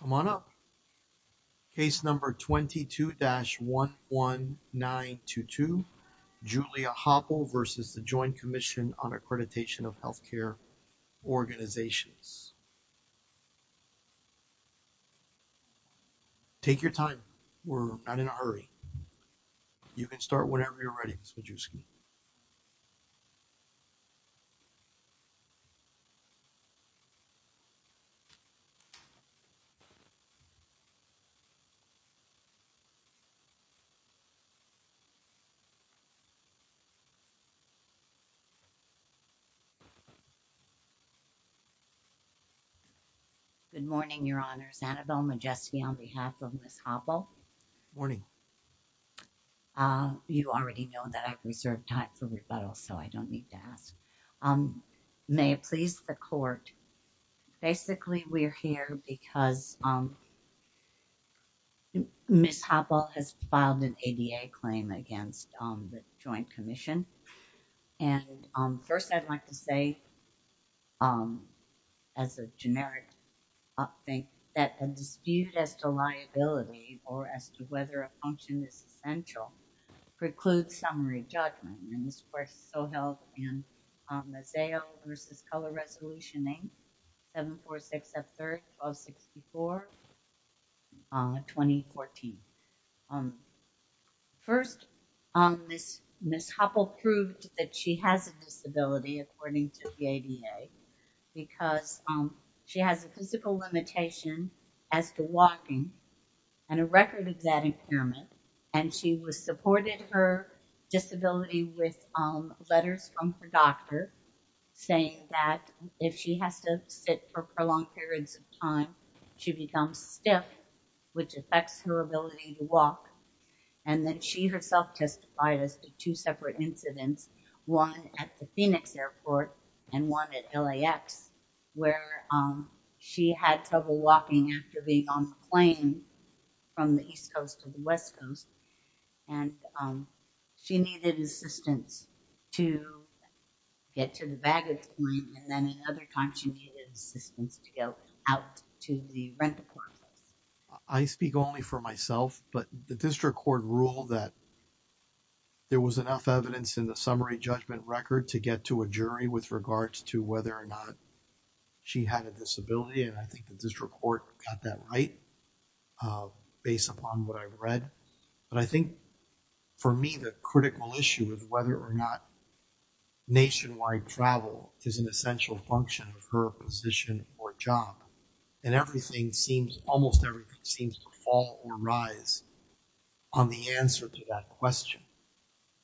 Come on up. Case number 22-11922, Julia Hopple v. The Joint Commission on Accreditation of Healthcare Organizations. Take your time. We're not in a hurry. You can start whenever you're ready. Good morning, Your Honors. Annabel Majeski on behalf of Ms. Hopple. Morning. You already know that I've reserved time for rebuttal, so I don't need to ask. May it please the court. Basically, we're here because Ms. Hopple has filed an ADA claim against the Joint Commission, and first I'd like to say as a generic update that a dispute as to liability or as to whether a function is essential precludes summary judgment, and this court is so held in Maseo v. Color Resolution 8-746-F3-1264, 2014. First, Ms. Hopple proved that she has a disability according to the ADA because she has a physical limitation as to walking and a record of that impairment, and she was supported her disability with letters from her doctor saying that if she has to sit for prolonged periods of time, she becomes stiff, which affects her ability to walk, and then she herself testified as to two separate incidents, one at the Phoenix airport and one at LAX, where she had trouble walking after being on the plane from the east coast to the west coast, and she needed assistance to get to the baggage claim, and then another time she needed assistance to go out to the rental apartment. I speak only for myself, but the district court ruled that there was enough evidence in the summary judgment record to get to a jury with regards to whether or not she had a disability, and I think the district court got that right based upon what I read, but I think for me the critical issue of whether or not nationwide travel is an essential function of her position or job, and everything seems, almost everything seems to fall or rise on the answer to that question.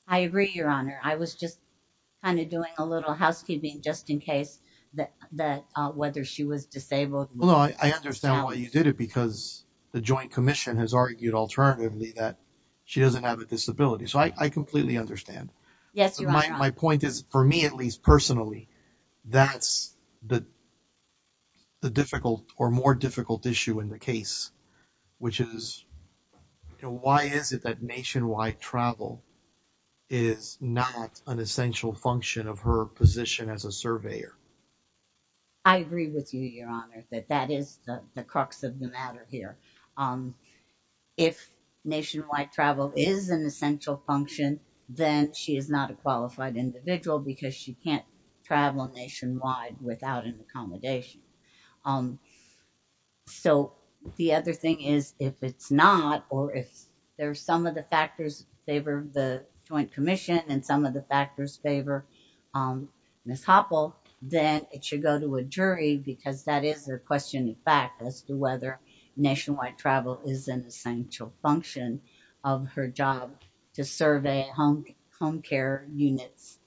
I agree, your honor. I was just kind of doing a little housekeeping just in case that whether she was disabled. No, I understand why you did it because the joint commission has argued alternatively that she doesn't have a disability, so I completely understand. Yes, your honor. My point is, for me at least personally, that's the difficult or more difficult issue in the case, which is, you know, why is it that nationwide travel is not an essential function of her position as a surveyor? I agree with you, your honor, that that is the crux of the matter here. If nationwide travel is an essential function, then she is not a qualified individual because she can't travel nationwide without an accommodation. So the other thing is, if it's not, or if there's some of the factors favor the joint commission and some of the factors favor Ms. Hoppell, then it should go to a jury because that is a question in fact as to whether nationwide travel is an essential function of her job to survey home care units.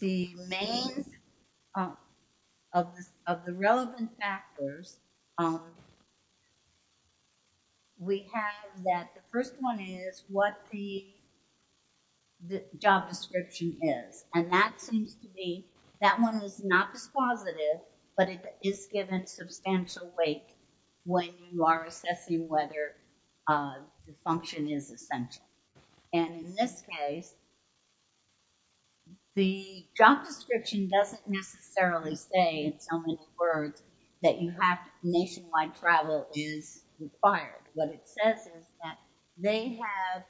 The main, of the relevant factors, we have that the first one is what the job description is, and that seems to be, that one is not dispositive, but it is given substantial weight when you are assessing whether the function is essential. And in this case, the job description doesn't necessarily say in so many words that you have nationwide travel is required. What it says is that they have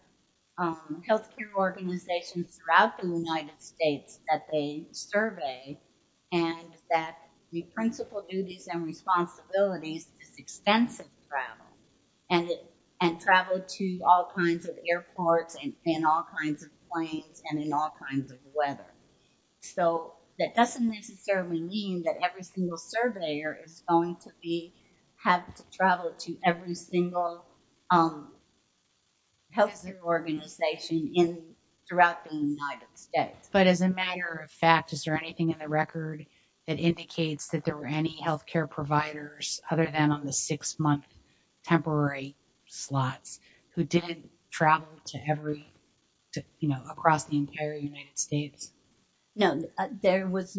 health care organizations throughout the United States that they survey, and that the principal duties and responsibilities is extensive travel, and and in all kinds of weather. So that doesn't necessarily mean that every single surveyor is going to be, have to travel to every single health organization in, throughout the United States. But as a matter of fact, is there anything in the record that indicates that there were any health care providers other than on the six month temporary slots who did travel to every, you know, across the entire United States? No, there was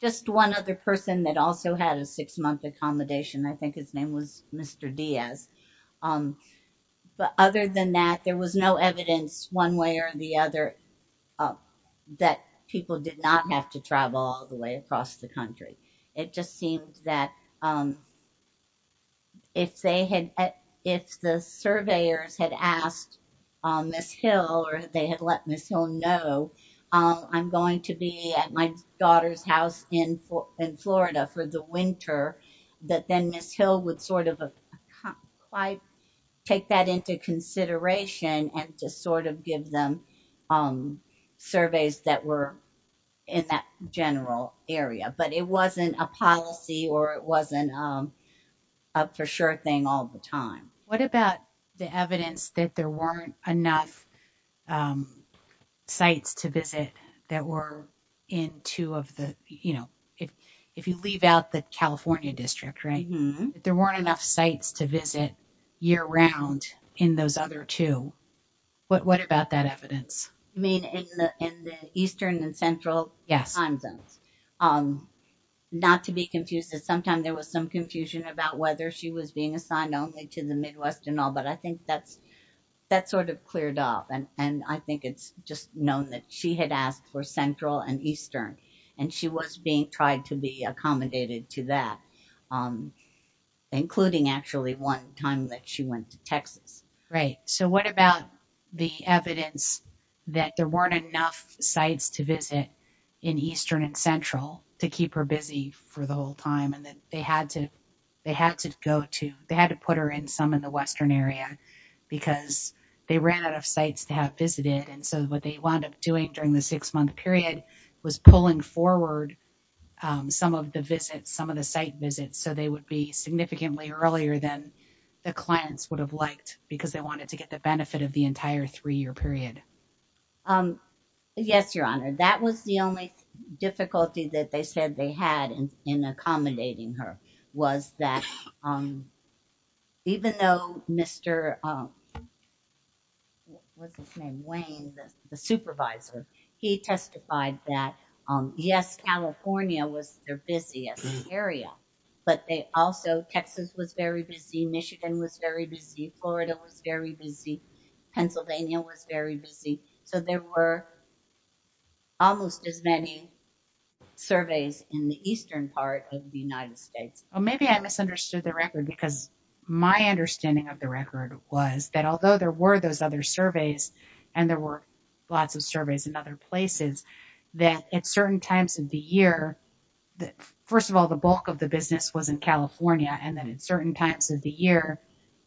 just one other person that also had a six month accommodation. I think his name was Mr. Diaz. But other than that, there was no evidence one way or the other that people did not have to travel all the way across the country. It just seems that if they had, if the surveyors had asked Miss Hill, or they had let Miss Hill know, I'm going to be at my daughter's house in Florida for the winter, that then Miss Hill would sort of take that into consideration and to sort of give them surveys that were in that general area. But it wasn't a policy or it wasn't a for sure thing all the time. What about the evidence that there weren't enough sites to visit that were in two of the, you know, if you leave out the California district, right? There weren't enough sites to visit year round in those other two. What about that evidence? I mean, in the eastern and central time zones. Not to be confused, sometimes there was some confusion about whether she was being assigned only to the Midwest and all, but I think that sort of cleared up. And I think it's just known that she had asked for central and eastern, and she was being tried to be accommodated to that, including actually one time that she went to Texas. Right. So what about the evidence that there weren't enough sites to visit in eastern and central to keep her busy for the whole time? And that they had to, they had to go to, they had to put her in some in the western area, because they ran out of sites to have visited. And so what they wound up doing during the six months was pulling forward some of the visits, some of the site visits, so they would be significantly earlier than the clients would have liked, because they wanted to get the benefit of the entire three-year period. Yes, Your Honor. That was the only difficulty that they said they had in accommodating her, was that even though Mr., what's his name, Wayne, the supervisor, he testified that, yes, California was their busiest area, but they also, Texas was very busy, Michigan was very busy, Florida was very busy, Pennsylvania was very busy. So there were almost as many surveys in the eastern part of the United States. Well, maybe I misunderstood the record, because my understanding of the record was that although there were those other surveys, and there were lots of surveys in other places, that at certain times of the year, first of all, the bulk of the business was in California, and that at certain times of the year,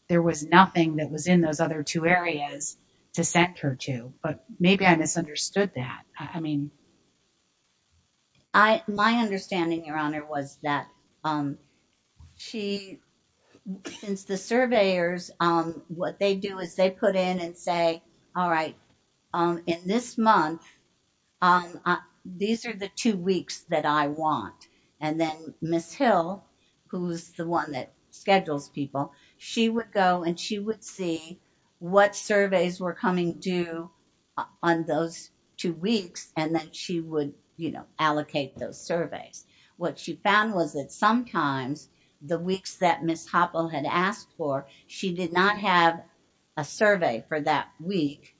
there was nothing that was in those other two areas to send her to. But maybe I misunderstood that. I mean. My understanding, Your Honor, was that she, since the surveyors, what they do is they put in and say, all right, in this month, these are the two weeks that I want. And then Ms. Hill, who's the one that schedules people, she would go and she would see what surveys were coming due on those two weeks, and then she would, you know, allocate those surveys. What she found was that sometimes, the weeks that Ms. Hoppell had asked for, she did not have a survey for that week.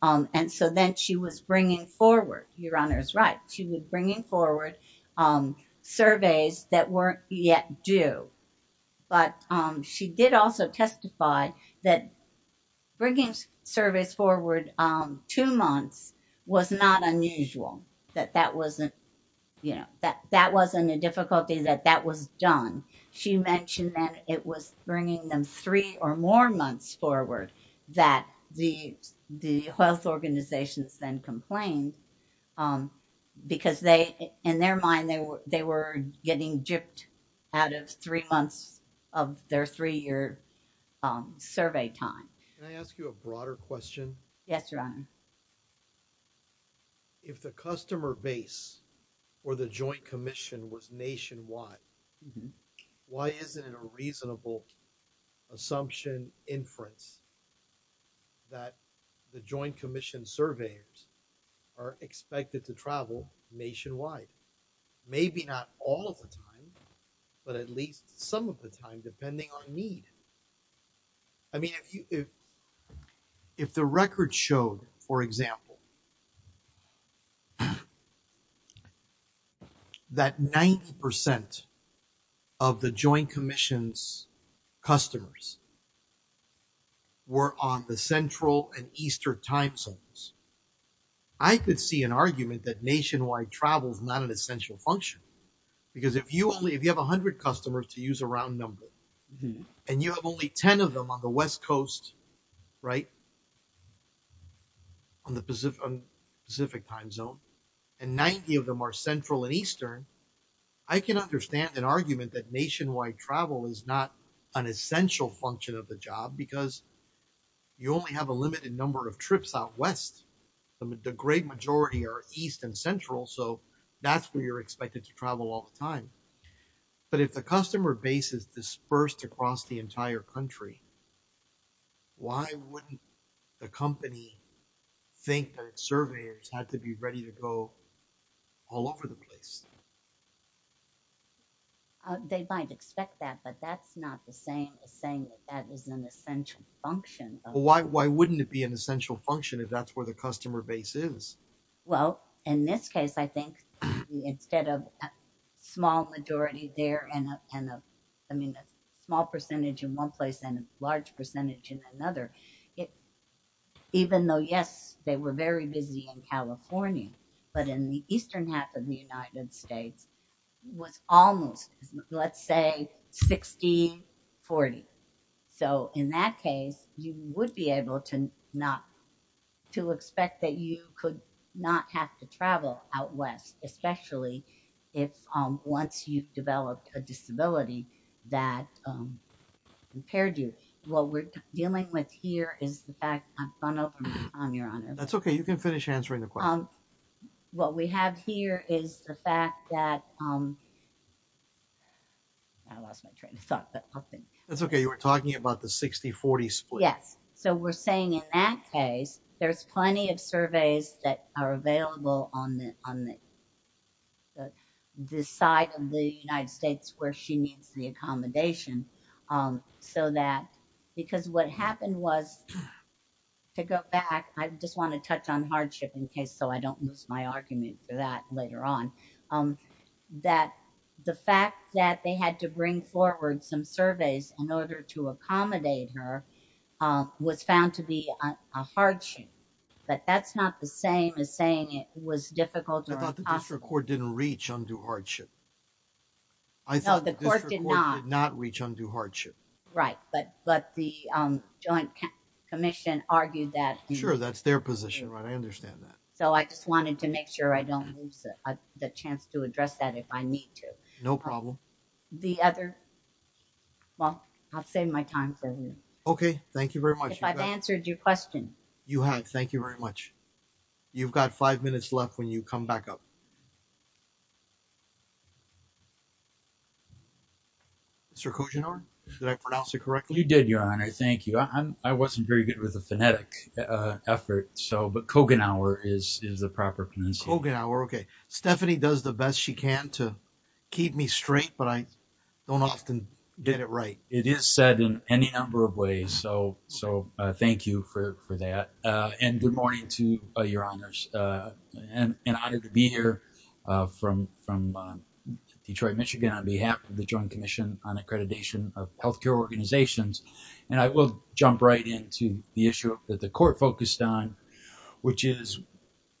And so then she was bringing forward, Your Honor's right, she was bringing forward surveys that weren't yet due. But she did also testify that bringing surveys forward two months was not unusual, that that wasn't, you know, that wasn't a difficulty, that that was done. She mentioned that it was bringing them three or more months forward that the health organizations then complained, because they, in their mind, they were getting gypped out of three months of their three-year survey time. Can I ask you a broader question? Yes, Your Honor. If the customer base or the joint commission was nationwide, why isn't it a reasonable assumption inference that the joint commission surveys are expected to travel nationwide? Maybe not all the time, but at least some of the time, for example, that 90% of the joint commission's customers were on the central and eastern time zones. I could see an argument that nationwide travel is not an essential function, because if you only, if you have 100 customers, to use a round number, and you have only 10 of them on the west coast, right, on the Pacific time zone, and 90 of them are central and eastern, I can understand an argument that nationwide travel is not an essential function of the job, because you only have a limited number of trips out west. The great majority are east and central, so that's where you're expected to travel all the time. But if the customer base is dispersed across the entire country, why wouldn't the company think that its surveyors had to be ready to go all over the place? They might expect that, but that's not the same as saying that that is an essential function. Why wouldn't it be an essential function if that's where the customer base is? Well, in this case, I think, instead of a small majority there, and a small percentage in one place and a large percentage in another, even though, yes, they were very busy in California, but in the eastern half of the United States was almost, let's say, 60-40. So in that case, you would be able to expect that you could not have to travel out west, especially if, once you've developed a disability, that impaired you. What we're dealing with here is the fact, I'm funneled, your honor. That's okay, you can finish answering the question. What we have here is the fact that, I lost my train of thought. That's okay, you were talking about the 60-40 split. Yes, so we're saying in that case, there's plenty of surveys that are available on the side of the United States where she needs the accommodation. Because what happened was, to go back, I just want to touch on hardship in case, so I don't lose my argument for that was found to be a hardship, but that's not the same as saying it was difficult. I thought the district court didn't reach undue hardship. I thought the court did not reach undue hardship. Right, but the joint commission argued that. Sure, that's their position, right? I understand that. So I just wanted to make sure I don't lose the chance to address that if I need to. No problem. The other, well, I'll save my time for you. Okay, thank you very much. If I've answered your question. You have, thank you very much. You've got five minutes left when you come back up. Mr. Koggenauer, did I pronounce it correctly? You did, your honor, thank you. I wasn't very good with the phonetic effort, but Koggenauer is the proper pronunciation. Stephanie does the best she can to keep me straight, but I don't often get it right. It is said in any number of ways, so thank you for that. And good morning to your honors. An honor to be here from Detroit, Michigan on behalf of the Joint Commission on Accreditation of Healthcare Organizations. And I will jump right into the issue that the court focused on, which is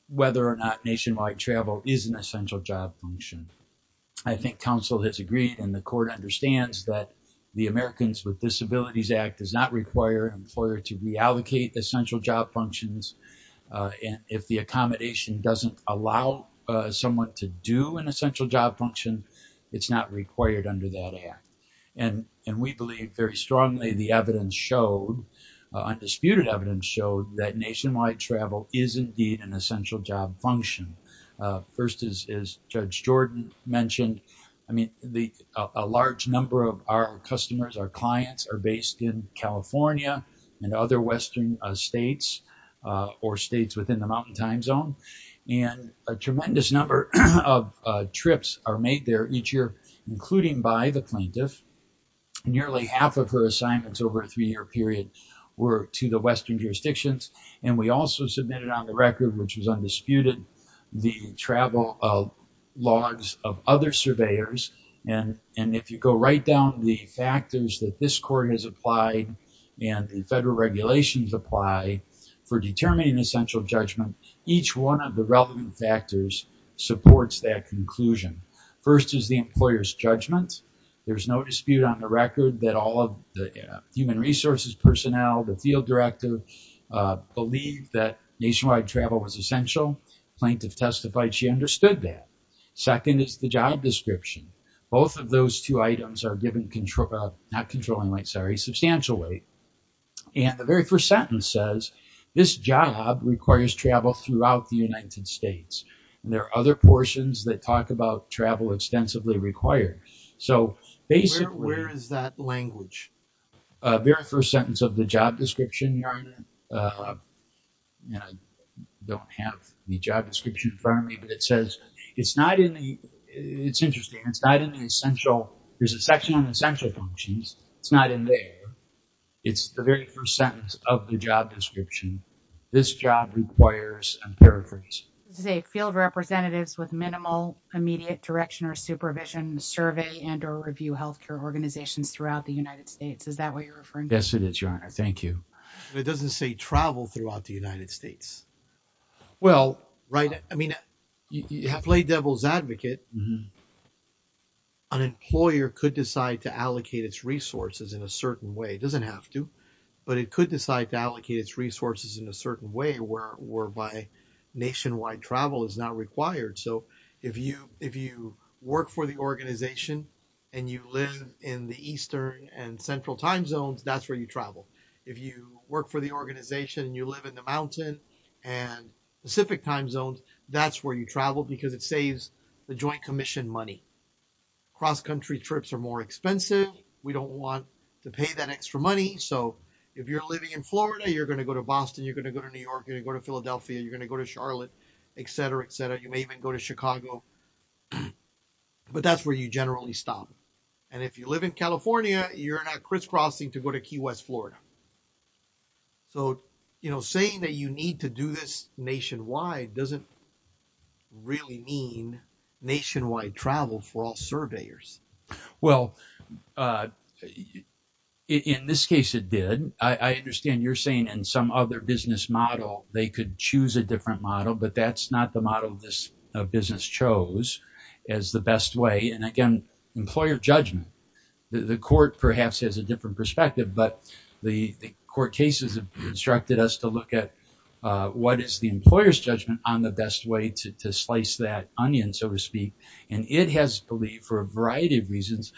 whether or not nationwide travel is an essential job function. I think counsel has agreed and the court understands that the Americans with Disabilities Act does not require an employer to reallocate essential job functions. And if the accommodation doesn't allow someone to do an essential job function, it's not required under that act. And we believe very strongly the evidence showed, undisputed evidence showed, that nationwide travel is indeed an essential job function. First, as Judge Jordan mentioned, I mean, a large number of our customers, our clients, are based in California and other western states or states within the mountain time zone. And a tremendous number of trips are made there each year, including by the plaintiff. Nearly half of her assignments over a three-year period were to the western jurisdictions. And we also submitted on the record, which was undisputed, the travel logs of other surveyors. And if you go right down the factors that this court has applied and the federal regulations apply for determining essential judgment, each one of the relevant factors supports that conclusion. First is the employer's judgment. There's no dispute on the record that all of the human resources personnel, the field director, believe that nationwide travel was essential. Plaintiff testified she understood that. Second is the job description. Both of those two items are given not controlling weight, sorry, substantial weight. And the very first sentence says, this job requires travel throughout the United States. And there are other portions that talk about travel extensively required. So basically, where is that language? A very first sentence of the job description, I don't have the job description in front of me, but it says it's not in the, it's interesting, it's not in the essential, there's a section on essential functions. It's not in there. It's the very first sentence of the job description. This job requires, I'm paraphrasing. This is a field representatives with minimal immediate direction or supervision survey and or review healthcare organizations throughout the United States. Is that what you're referring to? Yes, it is, your honor. Thank you. It doesn't say travel throughout the United States. Well, right. I mean, you have played devil's advocate. An employer could decide to allocate its resources in a certain way. It were whereby nationwide travel is not required. So if you work for the organization and you live in the Eastern and Central time zones, that's where you travel. If you work for the organization and you live in the mountain and Pacific time zones, that's where you travel because it saves the joint commission money. Cross-country trips are more expensive. We don't want to pay that going to go to New York. You're going to go to Philadelphia. You're going to go to Charlotte, et cetera, et cetera. You may even go to Chicago, but that's where you generally stop. And if you live in California, you're not crisscrossing to go to Key West, Florida. So, you know, saying that you need to do this nationwide doesn't really mean nationwide travel for all surveyors. Well, in this case, it did. I understand you're saying in some other business model, they could choose a different model, but that's not the model this business chose as the best way. And again, employer judgment, the court perhaps has a different perspective, but the court cases have instructed us to look at what is the employer's judgment on the best way to slice that reasons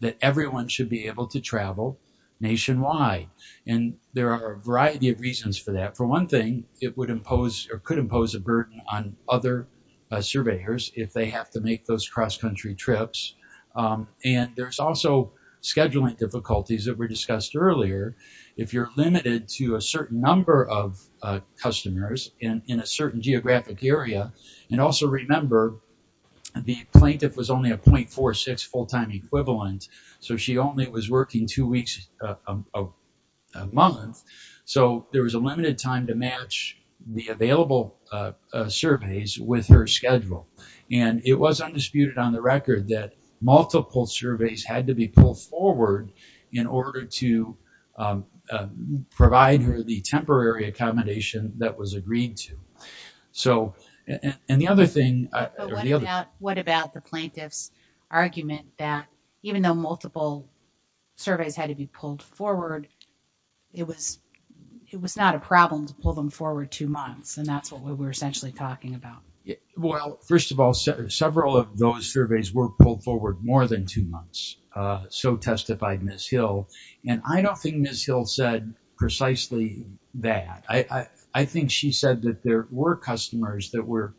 that everyone should be able to travel nationwide. And there are a variety of reasons for that. For one thing, it would impose or could impose a burden on other surveyors if they have to make those cross-country trips. And there's also scheduling difficulties that were discussed earlier. If you're limited to a certain number of customers in a certain geographic area, and also remember the plaintiff was only a .46 full-time equivalent, so she only was working two weeks a month, so there was a limited time to match the available surveys with her schedule. And it was undisputed on the record that multiple surveys had to be pulled forward in order to And the other thing, what about the plaintiff's argument that even though multiple surveys had to be pulled forward, it was not a problem to pull them forward two months, and that's what we're essentially talking about. Well, first of all, several of those surveys were pulled forward more than two months, so testified Ms. Hill. And I don't think Ms. Hill said precisely that. I think she said that there were customers that were,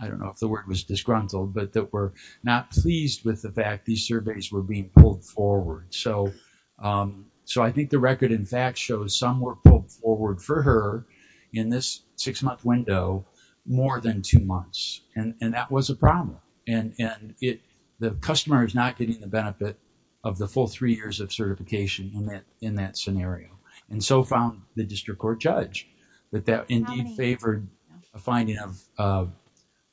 I don't know if the word was disgruntled, but that were not pleased with the fact these surveys were being pulled forward. So I think the record in fact shows some were pulled forward for her in this six-month window more than two months, and that was a problem. And the customer is not getting the benefit of the full three years certification in that scenario, and so found the district court judge that that indeed favored a finding of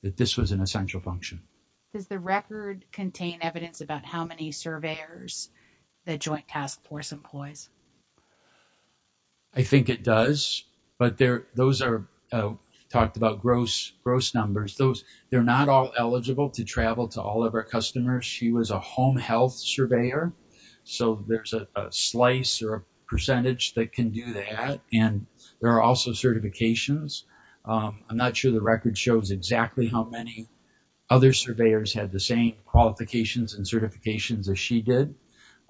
that this was an essential function. Does the record contain evidence about how many surveyors the Joint Task Force employs? I think it does, but those are talked about gross numbers. They're not all eligible to travel to all of our customers. She was a home health surveyor, so there's a slice or a percentage that can do that, and there are also certifications. I'm not sure the record shows exactly how many other surveyors had the same qualifications and certifications as she did,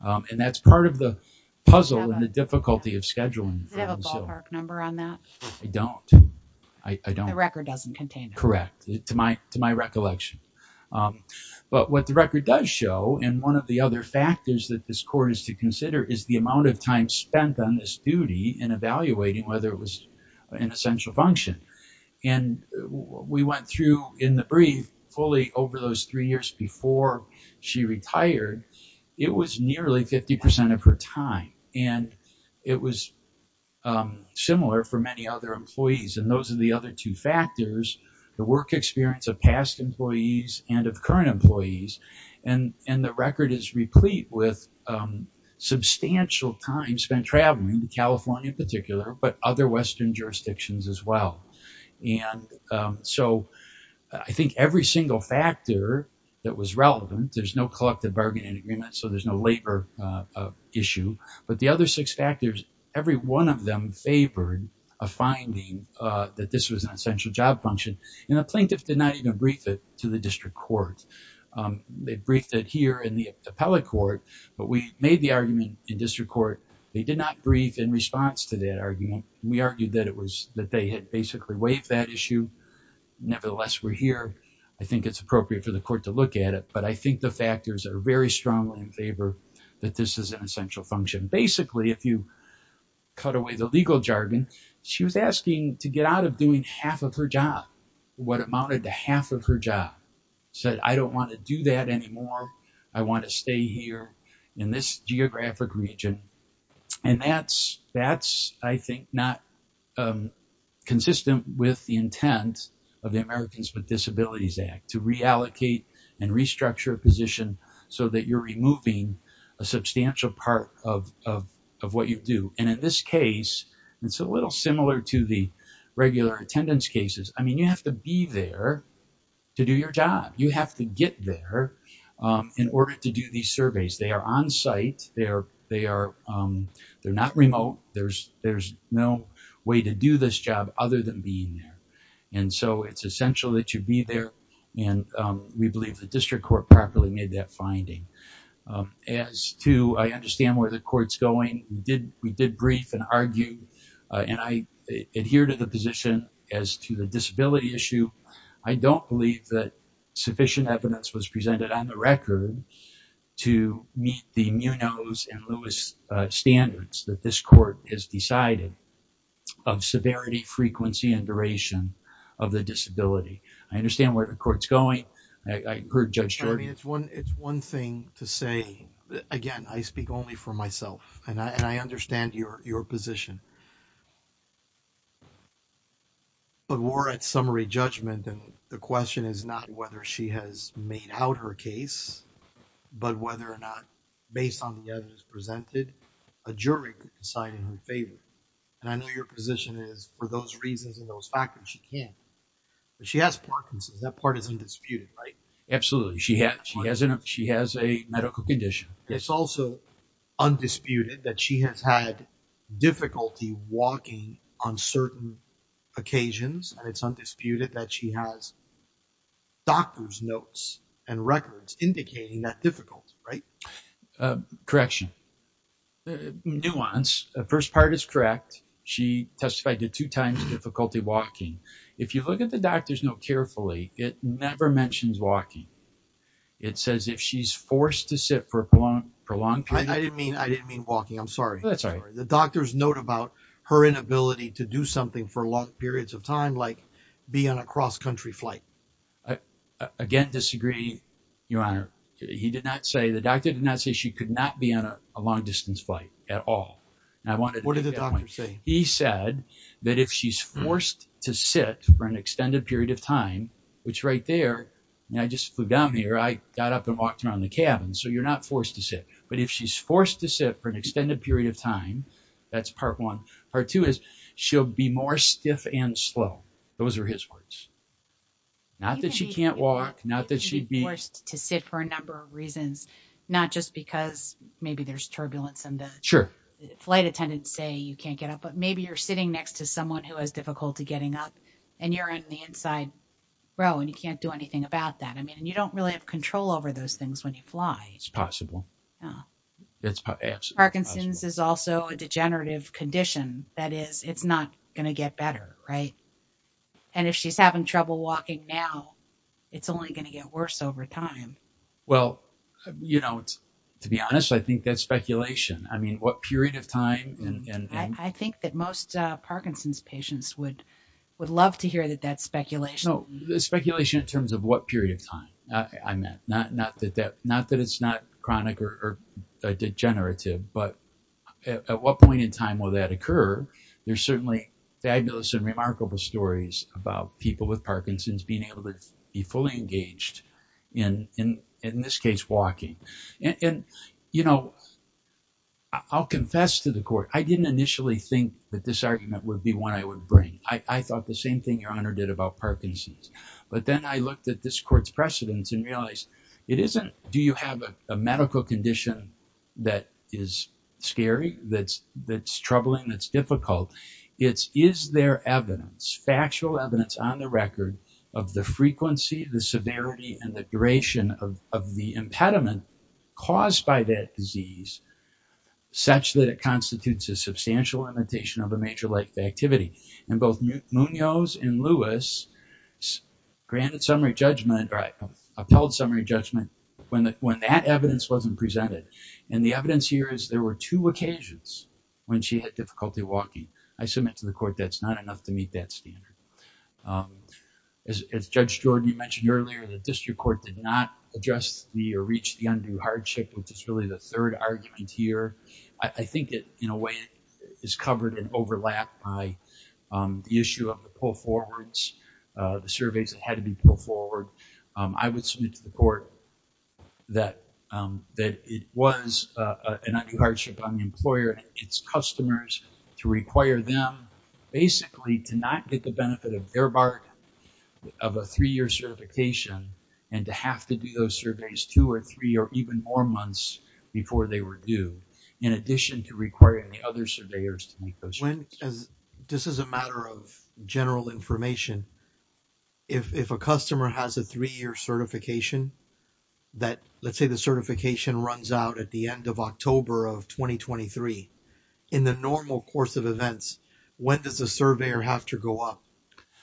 and that's part of the puzzle and the difficulty of scheduling. Does it have a ballpark number on that? I don't. The record doesn't contain that. To my recollection. But what the record does show, and one of the other factors that this court is to consider, is the amount of time spent on this duty in evaluating whether it was an essential function. And we went through in the brief fully over those three years before she retired, it was nearly 50% of her time, and it was similar for many other employees, and those are the other two factors, the work experience of past employees and of current employees, and the record is replete with substantial time spent traveling, California in particular, but other western jurisdictions as well. And so I think every single factor that was relevant, there's no collective bargaining agreement, so there's no labor issue, but the other six factors, every one of them favored a finding that this was an essential job function, and the plaintiff did not even brief it to the district court. They briefed it here in the appellate court, but we made the argument in district court, they did not brief in response to that argument, we argued that it was that they had basically waived that issue, nevertheless we're here, I think it's appropriate for the court to look at it, but I think the factors are very strongly in favor that this is an essential function. Basically if you cut away the legal jargon, she was asking to get out of doing half of her job, what amounted to half of her job, said I don't want to do that anymore, I want to stay here in this geographic region, and that's I think not consistent with the intent of the Americans with Disabilities Act, to reallocate and restructure a position so that you're removing a substantial part of what you do, and in this case, it's a little similar to the regular attendance cases, I mean you have to be there to do your job, you have to get there in order to do these surveys, they are on site, they're not remote, there's no way to do this job other than being there, and so it's essential that you be there, and we believe the district court properly made that finding. As to I understand where the court's going, we did brief and argue, and I adhere to the position as to the disability issue, I don't believe that sufficient evidence was presented on the record to meet the Munoz and Lewis standards that this court has decided of severity, frequency, and duration of the disability. I understand where the court's going, I heard Judge Jordan. It's one thing to say, again, I speak only for myself, and I understand your position, but we're at summary judgment, and the question is not whether she has made out her case, but whether or not, based on the evidence presented, a jury could decide in her favor, and I know your position is for those reasons and those factors, she can. But she has Parkinson's, that part is undisputed, right? Absolutely, she has a medical condition. It's also undisputed that she has had difficulty walking on certain occasions, and it's undisputed that she has doctor's notes and records indicating that difficulty, right? Correction. Nuance, the first part is correct. She testified to two times difficulty walking. If you look at the doctor's note carefully, it never mentions walking. It says if she's forced to sit for a prolonged period. I didn't mean walking, I'm sorry. That's all right. The doctor's note about her inability to do something for long periods of time, like be on a cross-country flight. Again, disagree, Your Honor. He did not say, the doctor did not say she could not be on a long distance flight at all. What did the doctor say? He said that if she's forced to sit for an extended period of time, which right there, and I just flew down here, I got up and walked around the cabin, so you're not forced to sit. But if she's forced to sit for an extended period of time, that's part one. Part two is she'll be more stiff and slow. Those are his words. Not that she can't walk, not that she'd be- There are a number of reasons, not just because maybe there's turbulence in the- Sure. Flight attendants say you can't get up, but maybe you're sitting next to someone who has difficulty getting up, and you're in the inside row, and you can't do anything about that. I mean, you don't really have control over those things when you fly. It's possible. Parkinson's is also a degenerative condition. That is, it's not going to get better, right? And if she's having trouble walking now, it's only going to get worse over time. Well, to be honest, I think that's speculation. I mean, what period of time and- I think that most Parkinson's patients would love to hear that that's speculation. No, it's speculation in terms of what period of time I meant. Not that it's not chronic or degenerative, but at what point in time will that occur? There's certainly fabulous and remarkable stories about people with Parkinson's being able to be fully engaged in, in this case, walking. And, you know, I'll confess to the court, I didn't initially think that this argument would be one I would bring. I thought the same thing Your Honor did about Parkinson's. But then I looked at this court's precedents and realized, it isn't, do you have a medical condition that is scary, that's troubling, that's difficult? It's, is there evidence, factual evidence on the record of the frequency, the severity, and the duration of the impediment caused by that disease such that it constitutes a substantial limitation of a major life activity? And both Munoz and Lewis granted summary judgment, appelled summary judgment, when that evidence wasn't presented. And the evidence here is there were two occasions when she had difficulty walking. I submit to the court, that's not enough to meet that standard. As Judge Jordan, you mentioned earlier, the district court did not adjust the or reach the undue hardship, which is really the third argument here. I think it, in a way, is covered and overlapped by the issue of the pull forwards, the surveys that had to be pulled forward. I would submit to the court that it was an undue hardship on the employer, its customers, to require them basically to not get the benefit of their bargain, of a three-year certification, and to have to do those surveys two or three or even more months before they were due, in addition to requiring the other surveyors to make those. This is a matter of general information. If a customer has a three-year certification, that let's say the certification runs out at the end of October of 2023, in the normal course of events, when does the surveyor have to go up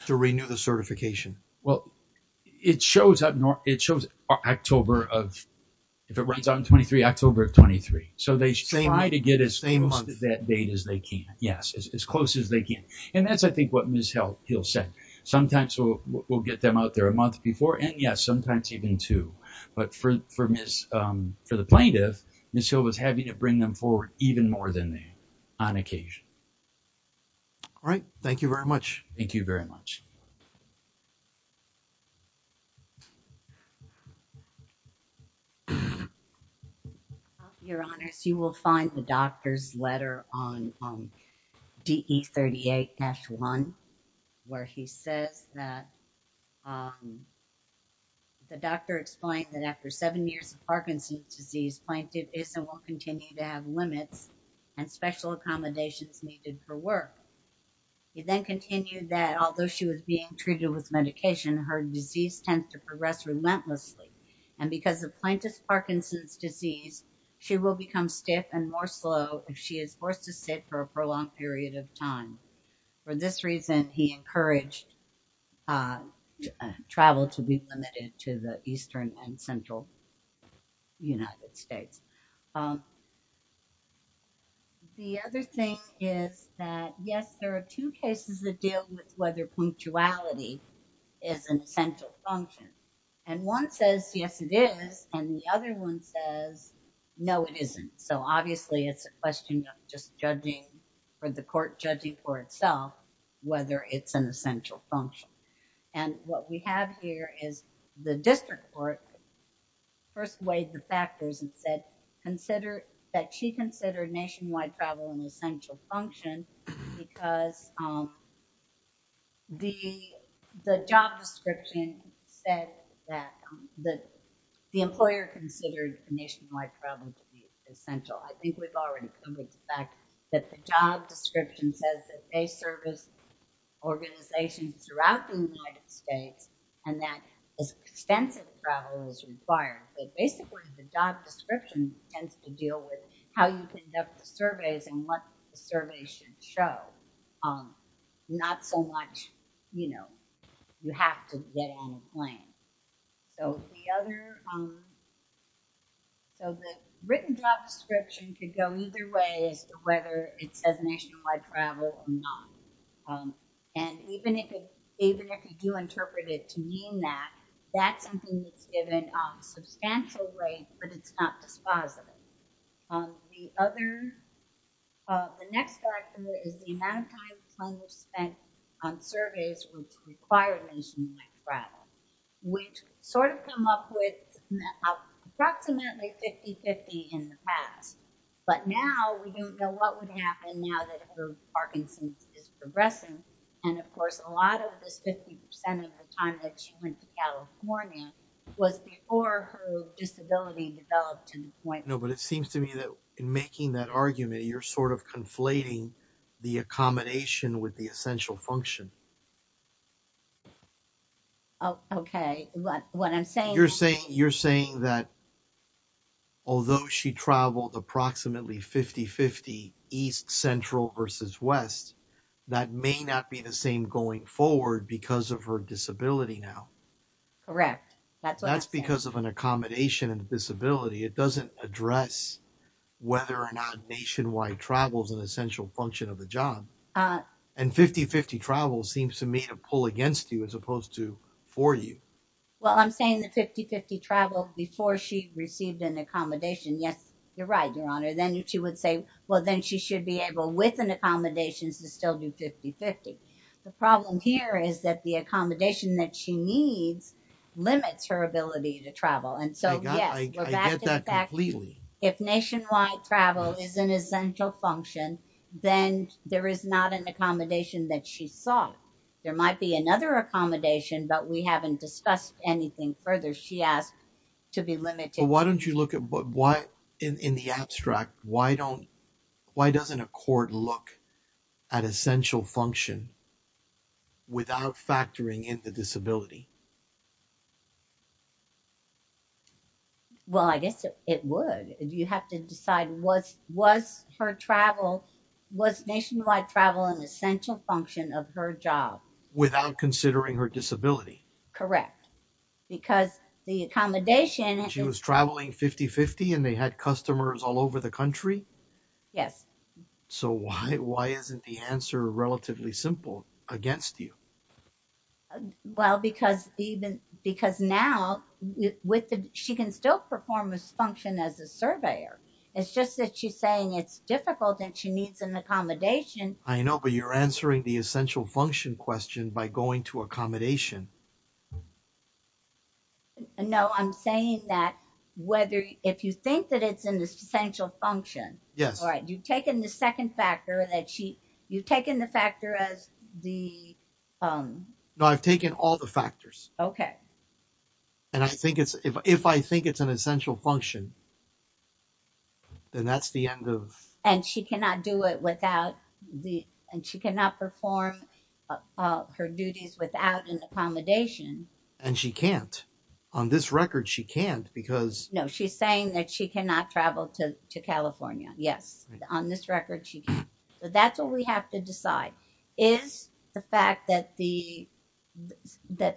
to renew the certification? Well, it shows October of, if it runs out in 23, October of 23. So they try to get as close to that date as they can. Yes, as close as they can. And that's, I think, what Ms. Hill said. Sometimes we'll get them out there a month before, and yes, sometimes even two. But for Ms., for the plaintiff, Ms. Hill was having to bring them forward even more than they, on occasion. All right. Thank you very much. Thank you very much. Your Honor, you will find the doctor's letter on DE38-1, where he says that the doctor explained that after seven years of Parkinson's disease, plaintiff is and will continue to have limits and special accommodations needed for work. He then continued that although she was being treated with medication, her disease tends to progress relentlessly. And because of plaintiff's Parkinson's disease, she will become stiff and more slow if she is forced to sit for a prolonged period of time. For this reason, he encouraged travel to be limited to the eastern and central United States. And the other thing is that, yes, there are two cases that deal with whether punctuality is an essential function. And one says, yes, it is. And the other one says, no, it isn't. So obviously, it's a question of just judging, or the court judging for itself, whether it's an essential function. And what we have here is the district court first weighed the factors and said, consider that she considered nationwide travel an essential function, because the job description said that the employer considered nationwide travel to be essential. I think we've already covered the fact that the job description says that they service organizations throughout the United States, and that extensive travel is required. But basically, the job description tends to deal with how you conduct the surveys and what the survey should show. Not so much, you know, you have to get on a plane. So the other, so the written job description could go either way as to whether it says nationwide travel or not. And even if you do interpret it to mean that, that's something that's given a substantial weight, but it's not dispositive. The other, the next factor is the amount of time that's spent on surveys which require nationwide travel, which sort of come up with approximately 50-50 in the past. But now, we don't know what would happen now that her Parkinson's is progressing. And of course, a lot of this 50% of the time that she went to California was before her disability developed to the point. No, but it seems to me that in making that argument, you're sort of conflating the accommodation with the essential function. Oh, okay. What I'm saying? You're saying that although she traveled approximately 50-50 East Central versus West, that may not be the same going forward because of her disability now. Correct. That's because of an accommodation and disability. It doesn't address whether or not nationwide travel is an essential function of the job. And 50-50 travel seems to me to pull against you as opposed to for you. Well, I'm saying the 50-50 travel before she received an accommodation. Yes, you're right, Your Honor. Then she would say, well, then she should be able with an accommodation to still do 50-50. The problem here is that the accommodation that she needs limits her ability to travel. And so, yes, I get that completely. If nationwide travel is an essential function, then there is not an accommodation that she saw. There might be another accommodation, but we haven't discussed anything further. She asked to be limited. Well, why don't you look at, in the abstract, why doesn't a court look at essential function without factoring in the disability? Well, I guess it would. You have to decide, was nationwide travel an essential function of her job? Without considering her disability. Correct. Because the accommodation... She was traveling 50-50 and they had customers all over the country? Yes. So why isn't the answer relatively simple against you? Well, because now she can still perform this function as a surveyor. It's just that she's saying it's difficult and she needs an accommodation. I know, but you're answering the essential function question by going to accommodation. No, I'm saying that if you think that it's an essential function... Yes. You've taken the second factor that she... You've taken the factor as the... No, I've taken all the factors. Okay. And if I think it's an essential function, then that's the end of... And she cannot do it without the... And she cannot perform her duties without an accommodation. And she can't. On this record, she can't because... No, she's saying that she cannot travel to California. Yes. On this record, she can't. But that's what we have to decide. Is the fact that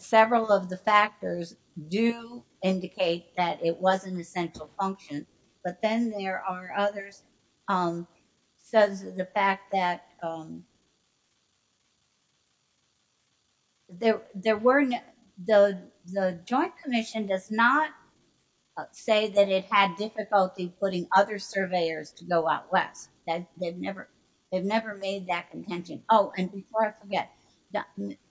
several of the factors do indicate that it was an essential function, but then there are others... Says the fact that... That they've never made that contention. Oh, and before I forget,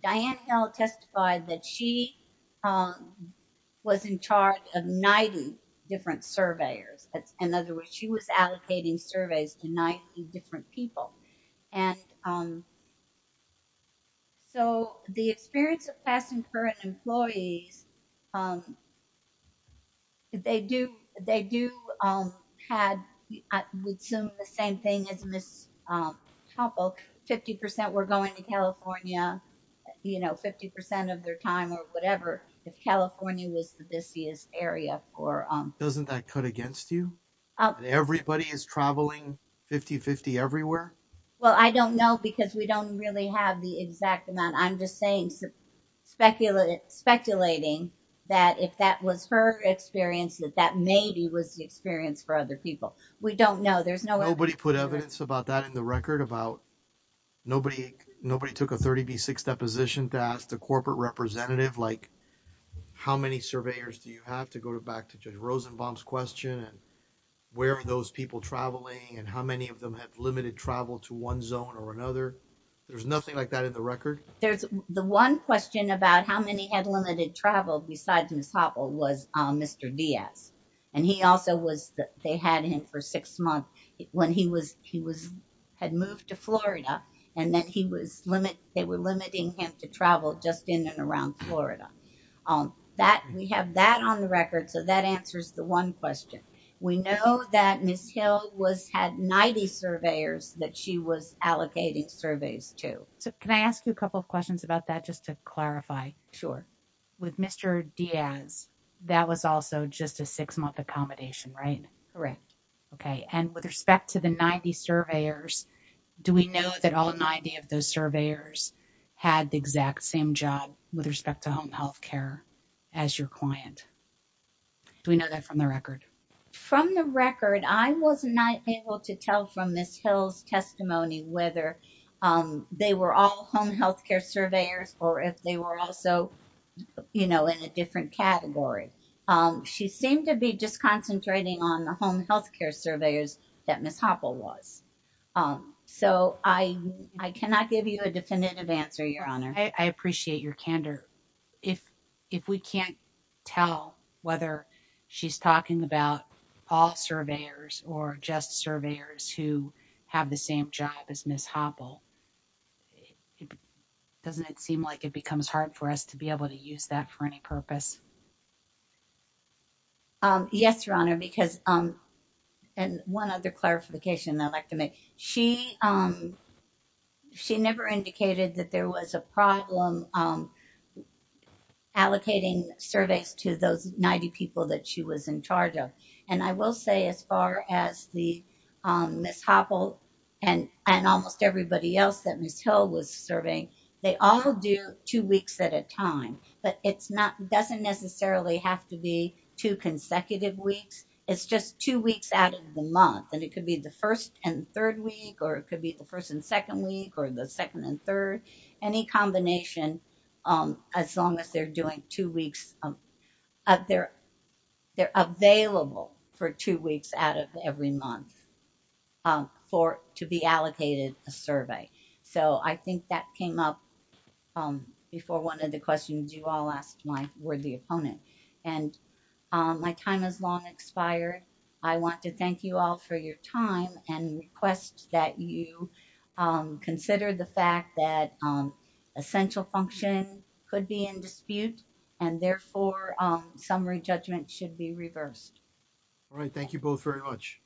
Diane Hill testified that she was in charge of 90 different surveyors. In other words, she was allocating surveys to 90 different people. And so the experience of past and current employees, they do have... I would assume the same thing as Ms. Topol. 50% were going to California, 50% of their time or whatever, if California was the busiest area for... Doesn't that cut against you? Everybody is traveling 50-50 everywhere? Well, I don't know because we don't really have the exact amount. I'm just saying, speculating that if that was her experience, that that maybe was the experience for other people. We don't know. Nobody put evidence about that in the record? Nobody took a 30B6 deposition to ask the corporate representative, how many surveyors do you have? To go back to Judge Rosenbaum's question and where are those people traveling and how many of them have limited travel to one zone or another? There's nothing like that in the record? There's... The one question about how many had limited travel besides Ms. Topol was Mr. Diaz. And he also was... They had him for six months when he had moved to Florida, and then they were limiting him to travel just in and around Florida. We have that on the record, so that answers the one question. We know that Ms. Hill had 90 surveyors that she was allocating surveys to. So can I ask you a couple of questions about that just to clarify? Sure. With Mr. Diaz, that was also just a six-month accommodation, right? Correct. Okay. And with respect to the 90 surveyors, do we know that all 90 of those surveyors had the exact same job with respect to home healthcare as your client? Do we know that from the record? From the record, I was not able to tell from Ms. Hill's testimony whether they were all home healthcare surveyors or if they were also in a different category. She seemed to be just concentrating on the home healthcare surveyors that Ms. Topol was. So I cannot give you a definitive answer, Your Honor. I appreciate your candor. If we can't tell whether she's talking about all surveyors or just surveyors who have the same job as Ms. Hoppel, doesn't it seem like it becomes hard for us to be able to use that for any purpose? Yes, Your Honor. And one other clarification I'd like to make. She never indicated that there was a problem allocating surveys to those 90 people that she was in charge of. And I will say as far as Ms. Hoppel and almost everybody else that Ms. Hill was surveying, they all do two weeks at a time. But it doesn't necessarily have to be two consecutive weeks. It's just two weeks out of the month. And it could be the first and third week, or it could be the first and second week, or the second and third. Any combination, as long as they're doing two weeks, they're available for two weeks out of every month to be allocated a survey. So I think that came up before one of the questions you all asked my worthy opponent. And my time has long expired. I want to thank you all for your time and request that you consider the fact that essential function could be in dispute. And therefore, summary judgment should be reversed. All right. Thank you both very much.